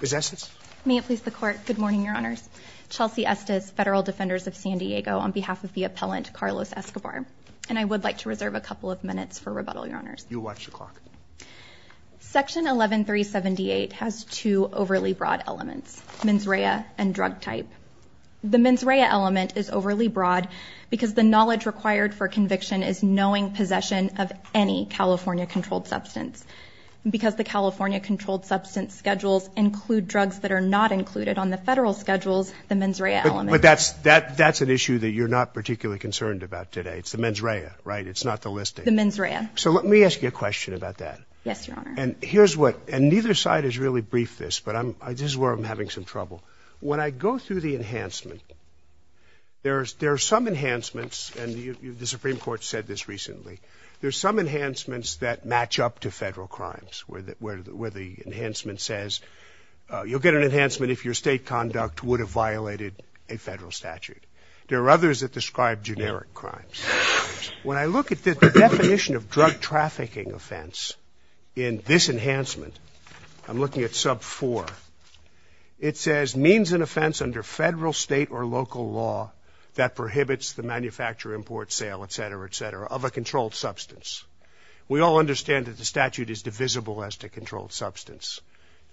Ms. Estes. May it please the Court. Good morning, Your Honors. Chelsea Estes, Federal Defenders of San Diego, on behalf of the appellant, Carlos Escobar. And I would like to reserve a couple of minutes for rebuttal, Your Honors. You watch the clock. Section 11378 has two overly broad elements, mens rea and drug type. The mens rea element is overly broad because the knowledge required for conviction is knowing possession of any California-controlled substance. Because the California-controlled substance schedules include drugs that are not included on the federal schedules, the mens rea element. But that's, that's an issue that you're not particularly concerned about today. It's the mens rea, right? It's not the listing. The mens rea. So let me ask you a question about that. Yes, Your Honor. And here's what, and neither side has really briefed this, but I'm, this is where I'm having some trouble. When I go through the enhancement, there's, there are some enhancements, and the Supreme Court said this recently, there's some enhancements that match up to federal crimes, where the, where the, where the enhancement says, you'll get an enhancement if your state conduct would have violated a federal statute. There are others that describe generic crimes. When I look at the definition of drug trafficking offense in this enhancement, I'm looking at sub four. It says, means an offense under federal, state, or local law that prohibits the manufacture, import, sale, et cetera, et cetera, of a controlled substance. We all understand that the statute is divisible as to controlled substance.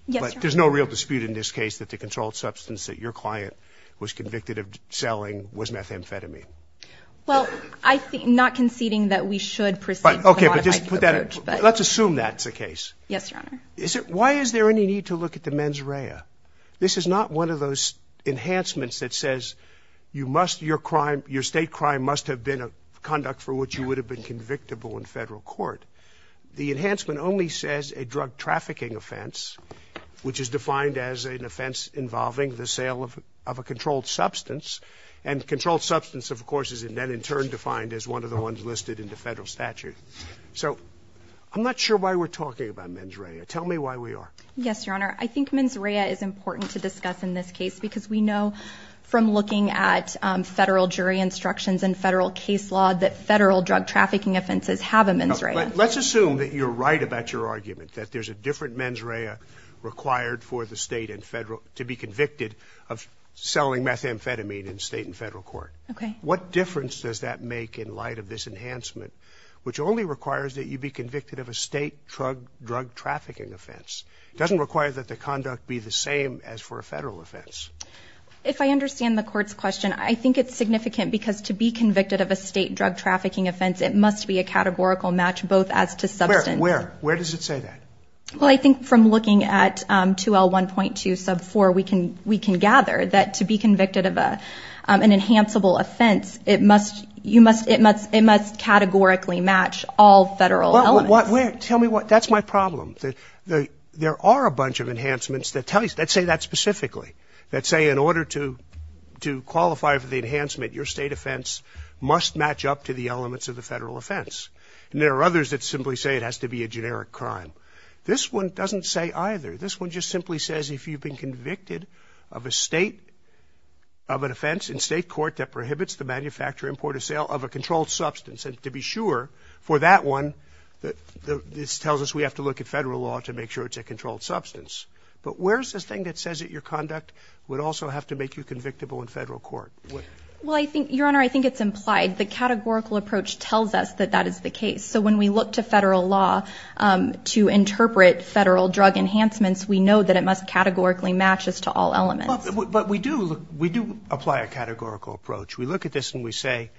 Yes, Your Honor. But there's no real dispute in this case that the controlled substance that your client was convicted of selling was methamphetamine. Well, I think, not conceding that we should proceed with a modified approach, but. Okay, but just put that, let's assume that's the case. Yes, Your Honor. Is it, why is there any need to look at the mens rea? This is not one of those enhancements that says, you must, your crime, your state crime must have been a conduct for which you would have been convictable in federal court. The enhancement only says a drug trafficking offense, which is defined as an offense involving the sale of, of a controlled substance. And controlled substance, of course, is then in turn defined as one of the ones listed in the federal statute. So, I'm not sure why we're talking about mens rea. Tell me why we are. Yes, Your Honor. I think mens rea is important to discuss in this case because we know from looking at federal jury instructions and federal case law that federal drug trafficking offenses have a mens rea. Let's assume that you're right about your argument, that there's a different mens rea required for the state and federal, to be convicted of selling methamphetamine in state and federal court. Okay. What difference does that make in light of this enhancement, which only requires that you be convicted of a state drug, drug trafficking offense? It doesn't require that the conduct be the same as for a If I understand the court's question, I think it's significant because to be convicted of a state drug trafficking offense, it must be a categorical match both as to substance. Where, where, where does it say that? Well, I think from looking at 2L1.2 sub 4, we can, we can gather that to be convicted of a, an enhanceable offense, it must, you must, it must, it must categorically match all federal elements. Tell me what, that's my problem. The, the, there are a bunch of say in order to, to qualify for the enhancement, your state offense must match up to the elements of the federal offense. And there are others that simply say it has to be a generic crime. This one doesn't say either. This one just simply says if you've been convicted of a state, of an offense in state court that prohibits the manufacture, import or sale of a controlled substance, and to be sure for that one, that the, this tells us we have to look at federal law to make sure it's a controlled substance. But where's this thing that says that your conduct would also have to make you convictable in federal court? Well, I think, Your Honor, I think it's implied. The categorical approach tells us that that is the case. So when we look to federal law to interpret federal drug enhancements, we know that it must categorically match as to all elements. But we do, we do apply a categorical approach. We look at this and we say,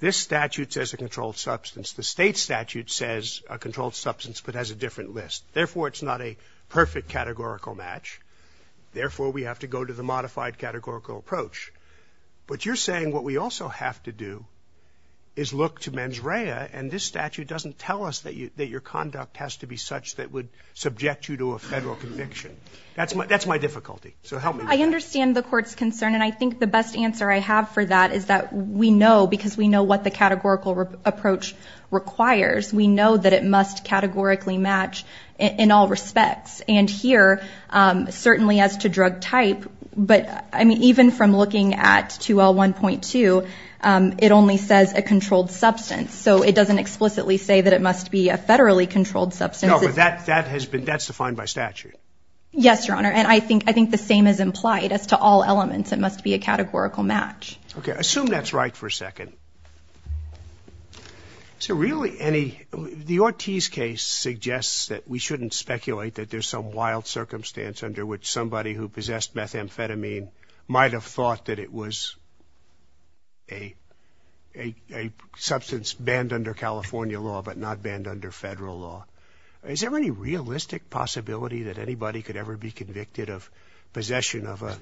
this statute says a controlled substance. The state statute says a controlled substance, but has a different list. Therefore, it's not a perfect categorical match. Therefore, we have to go to the modified categorical approach. But you're saying what we also have to do is look to mens rea and this statute doesn't tell us that you, that your conduct has to be such that would subject you to a federal conviction. That's my, that's my difficulty. So help me. I understand the court's concern and I think the best answer I have for that is that we know because we know what the categorical approach requires. We know that it must categorically match in all respects. And here, certainly as to drug type, but I mean, even from looking at 2L1.2, it only says a controlled substance. So it doesn't explicitly say that it must be a federally controlled substance. No, but that, that has been, that's defined by statute. Yes, Your Honor. And I think, I think the same is implied as to all elements. It must be a categorical match. Okay. Assume that's right for a second. Is there really any, the Ortiz case suggests that we shouldn't speculate that there's some wild circumstance under which somebody who possessed methamphetamine might have thought that it was a, a, a substance banned under California law but not banned under federal law. Is there any realistic possibility that anybody could ever be convicted of possession of a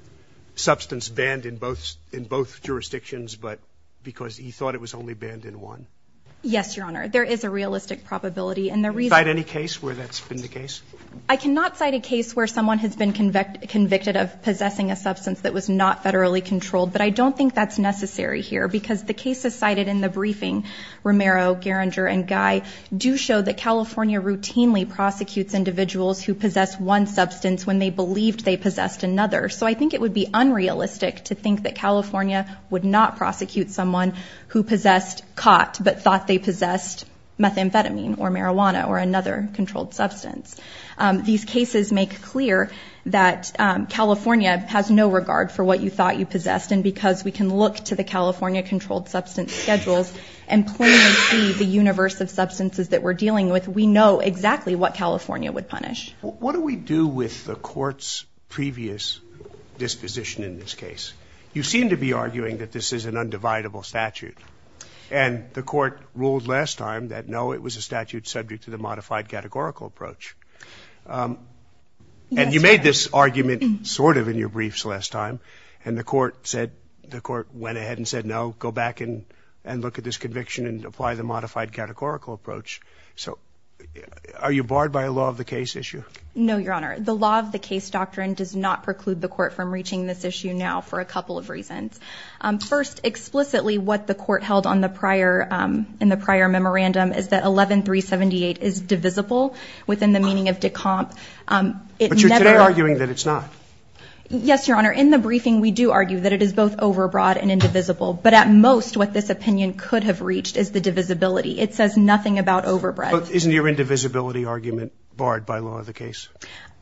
substance that was not federally controlled? Yes, Your Honor. There is a realistic probability. And the reason Cite any case where that's been the case? I cannot cite a case where someone has been convicted of possessing a substance that was not federally controlled. But I don't think that's necessary here because the cases cited in the briefing, Romero, Gerringer, and Guy, do show that California routinely prosecutes individuals who possess one substance when they believed would not prosecute someone who possessed, caught, but thought they possessed methamphetamine or marijuana or another controlled substance. These cases make clear that California has no regard for what you thought you possessed. And because we can look to the California controlled substance schedules and plainly see the universe of substances that we're dealing with, we know exactly what California would punish. What do we do with the court's previous disposition in this case? You seem to be arguing that this is an undividable statute. And the court ruled last time that no, it was a statute subject to the modified categorical approach. And you made this argument sort of in your briefs last time. And the court said, the court went ahead and said, no, go back and look at this conviction and apply the modified categorical approach. So are you barred by a law of the case issue? No, Your Honor. The law of the case doctrine does not preclude the court from First, explicitly what the court held on the prior, in the prior memorandum is that 11-378 is divisible within the meaning of decomp. But you're today arguing that it's not. Yes, Your Honor. In the briefing, we do argue that it is both overbroad and indivisible. But at most, what this opinion could have reached is the divisibility. It says nothing about overbred. But isn't your indivisibility argument barred by law of the case?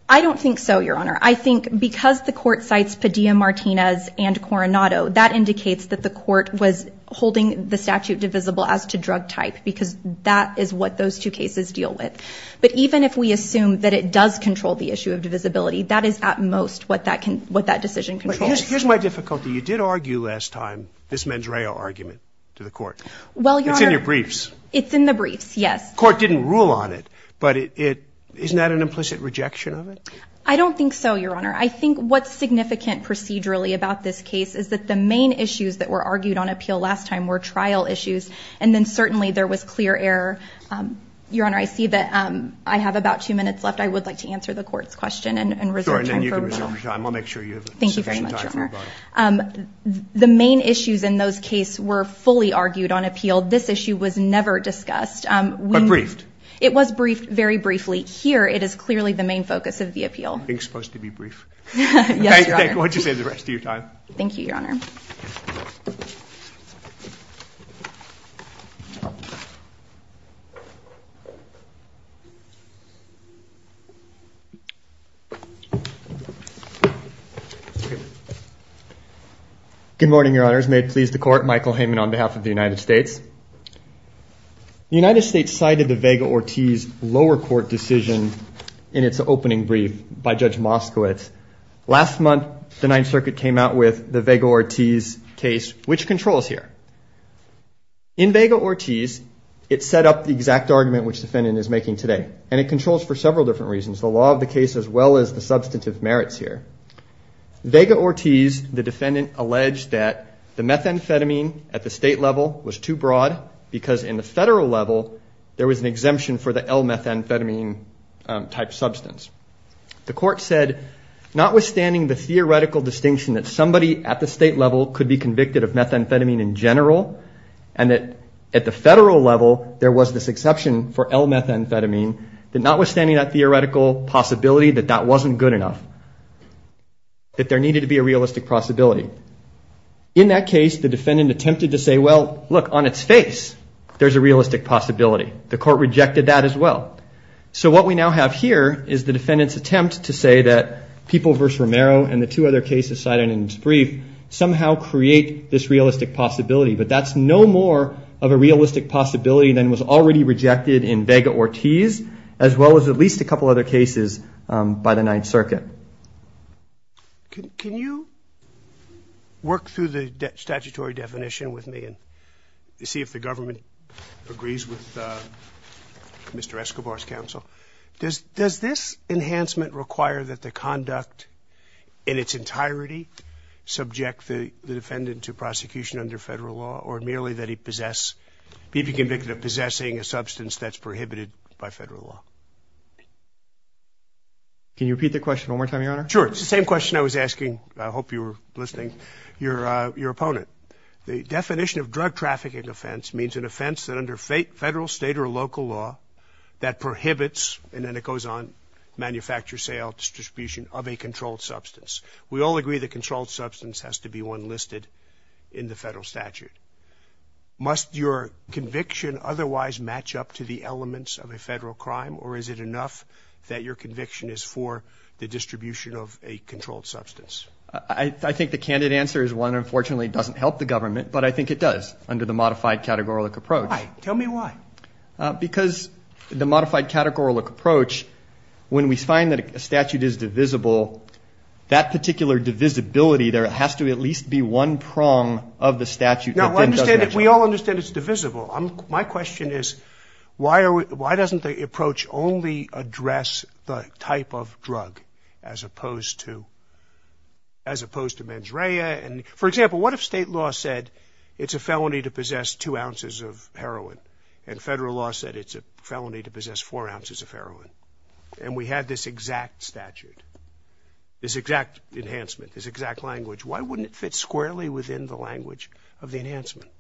I don't think so, Your Honor. I think because the court cites Padilla-Martinez and Coronado, that indicates that the court was holding the statute divisible as to drug type, because that is what those two cases deal with. But even if we assume that it does control the issue of divisibility, that is at most what that can, what that decision controls. Here's my difficulty. You did argue last time, this mens rea argument to the court. It's in your briefs. It's in the briefs, yes. Court didn't rule on it, but it, it, isn't that an implicit rejection of it? I don't think so, Your Honor. I think what's significant procedurally about this case is that the main issues that were argued on appeal last time were trial issues. And then certainly, there was clear error. Your Honor, I see that I have about two minutes left. I would like to answer the court's question and, and reserve time for me. Sure, and then you can reserve your time. I'll make sure you have sufficient time. Thank you very much, Your Honor. The main issues in those case were fully argued on appeal. This issue was never discussed. But briefed? It was briefed very briefly. Here, it is clearly the main focus of the appeal. I think it's supposed to be brief. Yes, Your Honor. Okay, go ahead and save the rest of your time. Thank you, Your Honor. Good morning, Your Honors. May it please the court, Michael Heyman on behalf of the United States. The United States cited the Vega-Ortiz lower court decision in its opening brief by Judge Moskowitz. Last month, the Ninth Circuit came out with the Vega-Ortiz case, which controls here. In Vega-Ortiz, it set up the exact argument which defendant is making today. And it controls for several different reasons. The law of the case as well as the substantive merits here. Vega-Ortiz, the defendant alleged that the methamphetamine at the state level was too broad because in the federal level, there was an exemption for the L-methamphetamine type substance. The court said, notwithstanding the theoretical distinction that somebody at the state level could be convicted of methamphetamine in general, and that at the federal level, there was this exception for L-methamphetamine, that notwithstanding that theoretical possibility that that wasn't good enough, that there needed to be a realistic possibility. In that case, the defendant attempted to say, well, look, on its face, there's a realistic possibility. The court rejected that as well. So what we now have here is the defendant's attempt to say that People v. Romero and the two other cases cited in his brief somehow create this realistic possibility, but that's no more of a realistic possibility than was already rejected in Vega-Ortiz, as well as at least a couple other cases by the Ninth Circuit. Can you work through the statutory definition with me and see if the government agrees with Mr. Escobar's counsel? Does this enhancement require that the conduct in its entirety subject the defendant to prosecution under federal law, or merely that he possess, be convicted of possessing a substance that's prohibited by federal law? Can you repeat the question one more time, Your Honor? Sure, it's the same question I was asking, I hope you were listening, your opponent. The definition of drug trafficking offense means an offense that under federal, state, or local law that prohibits, and then it goes on, manufacture, sale, distribution of a controlled substance. We all agree the controlled substance has to be one listed in the federal statute. Must your conviction otherwise match up to the elements of a federal crime, or is it enough that your conviction is for the distribution of a controlled substance? I think the candid answer is one, unfortunately, it doesn't help the government, but I think it does under the modified categorical approach. Why? Tell me why. Because the modified categorical approach, when we find that a statute is divisible, that particular divisibility, there has to at least be one prong of the statute that then does that job. We all understand it's divisible. My question is, why doesn't the approach only address the type of drug as opposed to, as opposed to mens rea, and for example, what if state law said, it's a felony to possess two ounces of heroin, and federal law said it's a felony to possess four ounces of heroin, and we had this exact statute, this exact enhancement, this exact language. Why wouldn't it fit squarely within the language of the enhancement?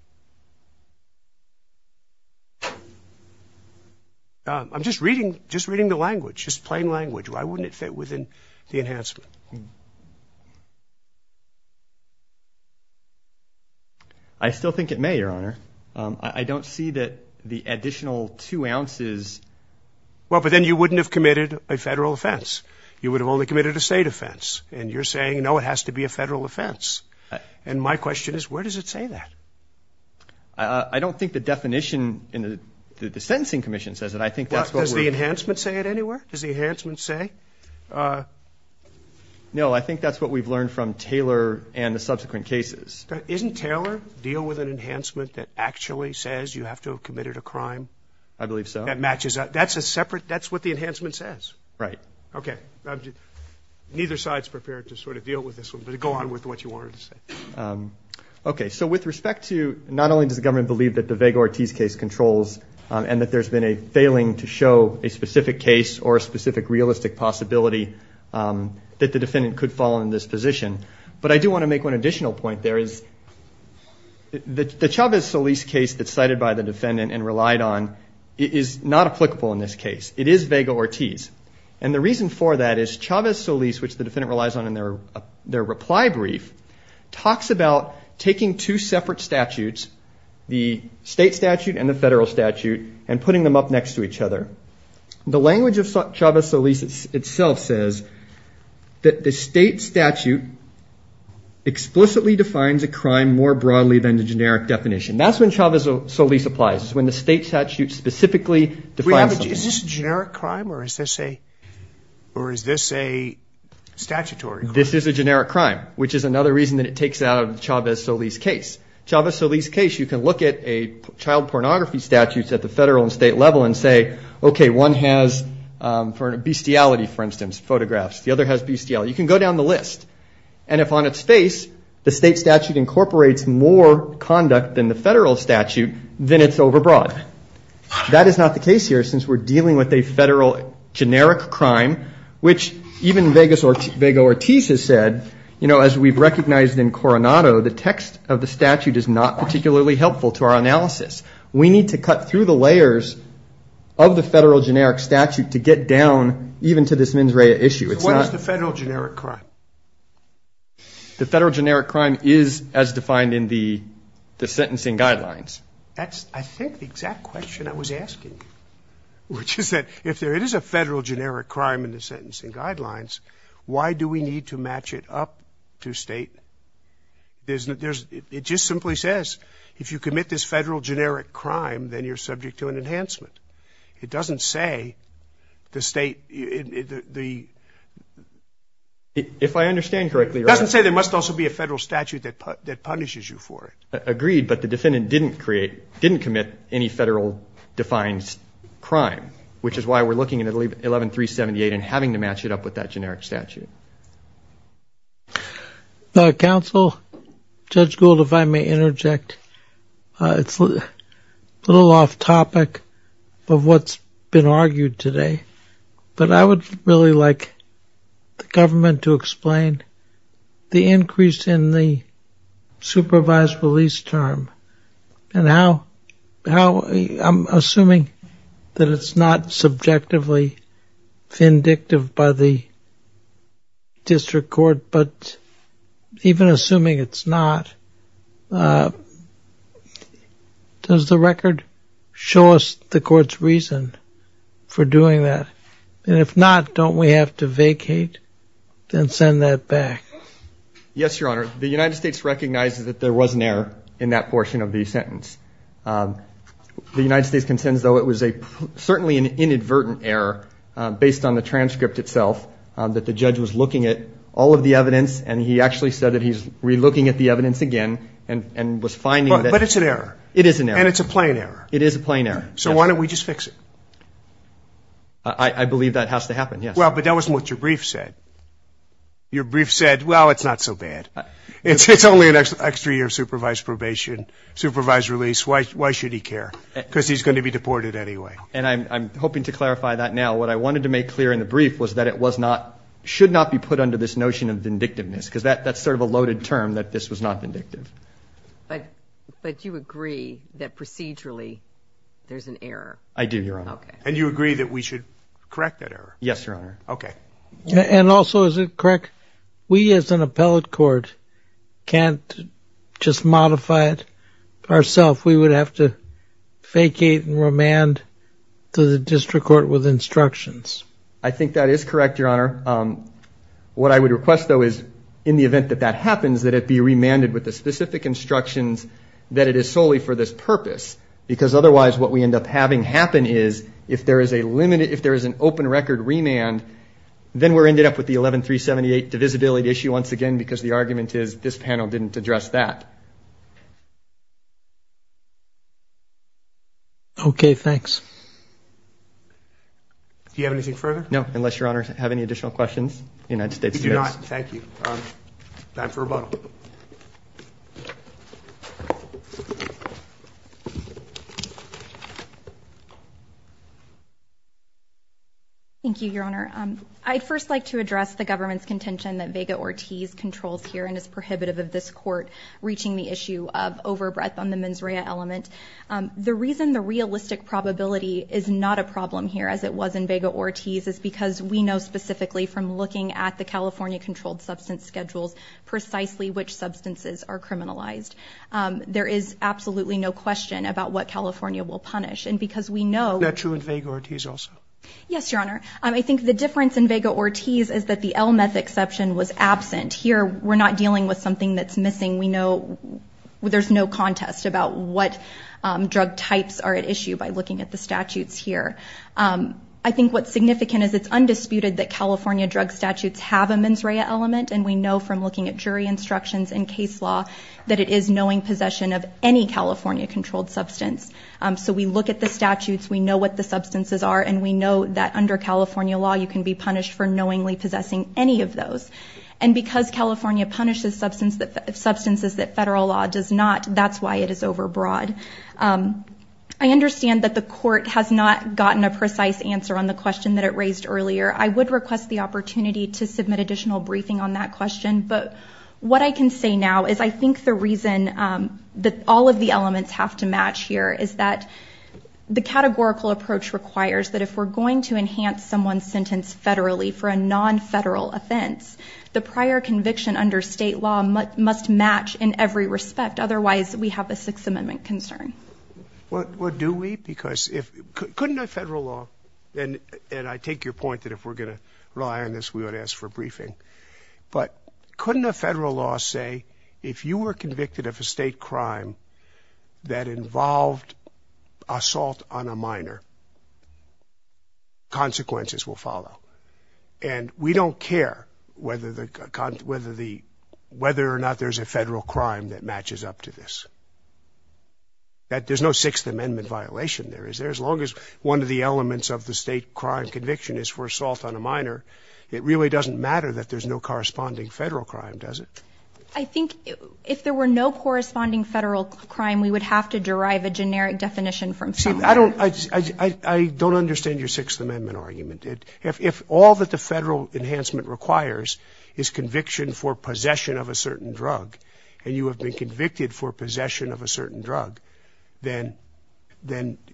I'm just reading, just reading the language, just plain language. Why wouldn't it fit within the enhancement? I still think it may, your honor. I don't see that the additional two ounces. Well, but then you wouldn't have committed a federal offense. You would have only committed a state offense. And you're saying, no, it has to be a federal offense. And my question is, where does it say that? I don't think the definition in the sentencing commission says it. I think that's what we're- Does the enhancement say it anywhere? Does the enhancement say? No, I think that's what we've learned from Taylor and the subsequent cases. Isn't Taylor, deal with an enhancement that actually says you have to have committed a crime? I believe so. That matches up. That's a separate, that's what the enhancement says. Right. Okay. Neither side's prepared to sort of deal with this one. But go on with what you wanted to say. Okay, so with respect to, not only does the government believe that the Vega-Ortiz case controls, and that there's been a failing to show a specific case or a specific realistic possibility that the defendant could fall in this position. But I do want to make one additional point. There is, the Chavez-Solis case that's cited by the defendant and relied on, is not applicable in this case. It is Vega-Ortiz. And the reason for that is Chavez-Solis, which the defendant relies on in their reply brief, talks about taking two separate statutes. The state statute and the federal statute, and putting them up next to each other. The language of Chavez-Solis itself says that the state statute explicitly defines a crime more broadly than the generic definition. That's when Chavez-Solis applies, is when the state statute specifically defines something. Is this a generic crime, or is this a statutory crime? This is a generic crime, which is another reason that it takes out of the Chavez-Solis case. Chavez-Solis case, you can look at a child pornography statute at the federal and state level and say, okay, one has bestiality, for instance, photographs. The other has bestiality. You can go down the list. And if on its face, the state statute incorporates more conduct than the federal statute, then it's overbroad. That is not the case here, since we're dealing with a federal generic crime, which even Vega-Ortiz has said, you know, as we've recognized in Coronado, the text of the statute is not particularly helpful to our analysis. We need to cut through the layers of the federal generic statute to get down even to this mens rea issue. It's not... What is the federal generic crime? The federal generic crime is as defined in the sentencing guidelines. That's, I think, the exact question I was asking, which is that if there is a federal generic crime in the sentencing guidelines, why do we need to match it up to state? It just simply says, if you commit this federal generic crime, then you're subject to an enhancement. It doesn't say the state, the... If I understand correctly... It doesn't say there must also be a federal statute that punishes you for it. Agreed, but the defendant didn't create, didn't commit any federal defined crime, which is why we're looking at 11378 and having to match it up with that generic statute. Counsel, Judge Gould, if I may interject, it's a little off topic of what's been argued today, but I would really like the government to explain the increase in the supervised release term and how, I'm assuming that it's not subjectively vindictive by the district court, but even assuming it's not, does the record show us the court's reason for doing that? And if not, don't we have to vacate and send that back? Yes, Your Honor. The United States recognizes that there was an error in that portion of the sentence. The United States contends, though, it was certainly an inadvertent error based on the transcript itself that the judge was looking at all of the evidence and he actually said that he's re-looking at the evidence again and was finding that... But it's an error. It is an error. And it's a plain error. It is a plain error. So why don't we just fix it? I believe that has to happen, yes. Well, but that wasn't what your brief said. Your brief said, well, it's not so bad. It's only an extra year of supervised probation, supervised release. Why should he care? Because he's going to be deported anyway. And I'm hoping to clarify that now. What I wanted to make clear in the brief was that it was not, should not be put under this notion of vindictiveness because that's sort of a loaded term, that this was not vindictive. But you agree that procedurally there's an error? I do, Your Honor. And you agree that we should correct that error? Yes, Your Honor. Okay. And also, is it correct? We, as an appellate court, can't just modify it ourself. We would have to vacate and remand to the district court with instructions. I think that is correct, Your Honor. What I would request, though, is in the event that that happens, that it be remanded with the specific instructions that it is solely for this purpose. Because otherwise, what we end up having happen is if there is a limited, if there is an open record remand, then we're ended up with the 11-378 divisibility issue once again because the argument is this panel didn't address that. Okay, thanks. Do you have anything further? No, unless Your Honor have any additional questions. Thank you. Time for rebuttal. Thank you, Your Honor. I'd first like to address the government's contention that Vega-Ortiz controls here and is prohibitive of this court reaching the issue of overbreath on the mens rea element. The reason the realistic probability is not a problem here, as it was in Vega-Ortiz, is because we know specifically from looking at the California controlled substance schedules precisely which substances are criminalized. There is absolutely no question about what California will punish. And because we know- Is that true in Vega-Ortiz also? Yes, Your Honor. I think the difference in Vega-Ortiz is that the L-meth exception was absent. Here, we're not dealing with something that's missing. We know there's no contest about what drug types are at issue by looking at the statutes here. I think what's significant is it's undisputed that California drug statutes have a mens rea element. And we know from looking at jury instructions and case law that it is knowing possession of any California controlled substance. So we look at the statutes. We know what the substances are. And we know that under California law, you can be punished for knowingly possessing any of those. And because California punishes substances that federal law does not, that's why it is overbroad. I understand that the court has not gotten a precise answer on the question that it raised earlier. I would request the opportunity to submit additional briefing on that question. But what I can say now is I think the reason that all of the elements have to match here is that the categorical approach requires that if we're going to enhance someone's sentence federally for a non-federal offense, the prior conviction under state law must match in every respect. Otherwise, we have a Sixth Amendment concern. Well, do we? Because if, couldn't a federal law, and I take your point that if we're going to rely on this, we ought to ask for a briefing. But couldn't a federal law say, if you were convicted of a state crime that involved assault on a minor, consequences will follow. And we don't care whether or not there's a federal crime that matches up to this, that there's no Sixth Amendment violation there. As long as one of the elements of the state crime conviction is for assault on a minor, it really doesn't matter that there's no corresponding federal crime, does it? I think if there were no corresponding federal crime, we would have to derive a generic definition from someone. See, I don't understand your Sixth Amendment argument. If all that the federal enhancement requires is conviction for possession of a certain drug, and you have been convicted for possession of a certain drug, then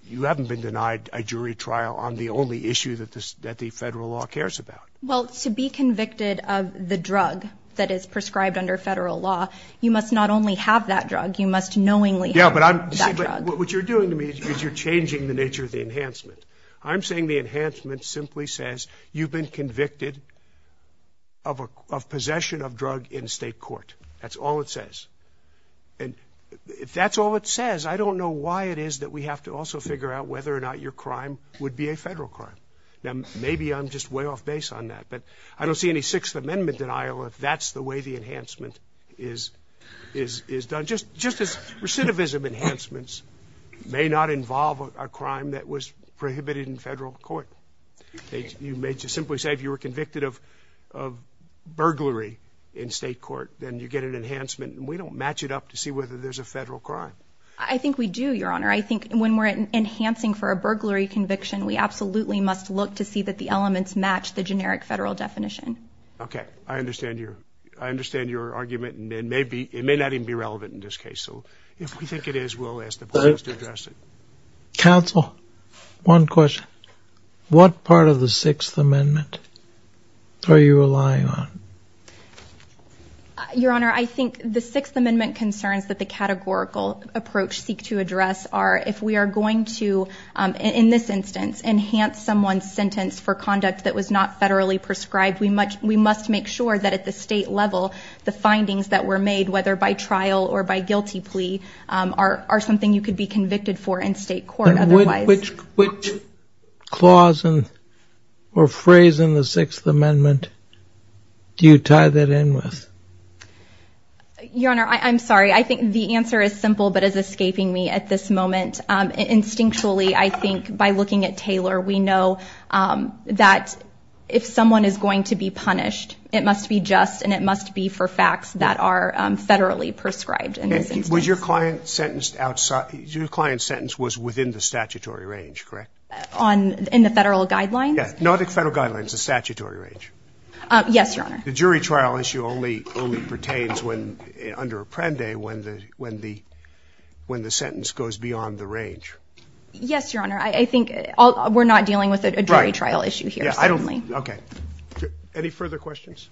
you haven't been denied a jury trial on the only issue that the federal law cares about. Well, to be convicted of the drug that is prescribed under federal law, you must not only have that drug, you must knowingly have that drug. What you're doing to me is you're changing the nature of the enhancement. I'm saying the enhancement simply says you've been convicted of possession of drug in state court. That's all it says. And if that's all it says, I don't know why it is that we have to also figure out whether or not your crime would be a federal crime. Now, maybe I'm just way off base on that, but I don't see any Sixth Amendment denial if that's the way the enhancement is done. Just as recidivism enhancements may not involve a crime that was prohibited in federal court. You may just simply say, if you were convicted of burglary in state court, then you get an enhancement, and we don't match it up to see whether there's a federal crime. I think we do, Your Honor. I think when we're enhancing for a burglary conviction, we absolutely must look to see that the elements match the generic federal definition. Okay, I understand your argument, and it may not even be relevant in this case. So if we think it is, we'll ask the plaintiffs to address it. Counsel, one question. What part of the Sixth Amendment are you relying on? Your Honor, I think the Sixth Amendment concerns that the categorical approach seek to address if we are going to, in this instance, enhance someone's sentence for conduct that was not federally prescribed, we must make sure that at the state level, the findings that were made, whether by trial or by guilty plea, are something you could be convicted for in state court otherwise. Which clause or phrase in the Sixth Amendment do you tie that in with? Your Honor, I'm sorry. I think the answer is simple, but it's escaping me at this moment. Instinctually, I think by looking at Taylor, we know that if someone is going to be punished, it must be just, and it must be for facts that are federally prescribed. And was your client sentenced outside, your client's sentence was within the statutory range, correct? On, in the federal guidelines? Yeah, not the federal guidelines, the statutory range. Yes, Your Honor. The jury trial issue only pertains when, under Apprende, when the sentence goes beyond the range. Yes, Your Honor. I think we're not dealing with a jury trial issue here. Yeah, I don't, okay. Any further questions?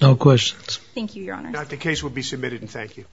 No questions. Thank you, Your Honor. The case will be submitted and thank you.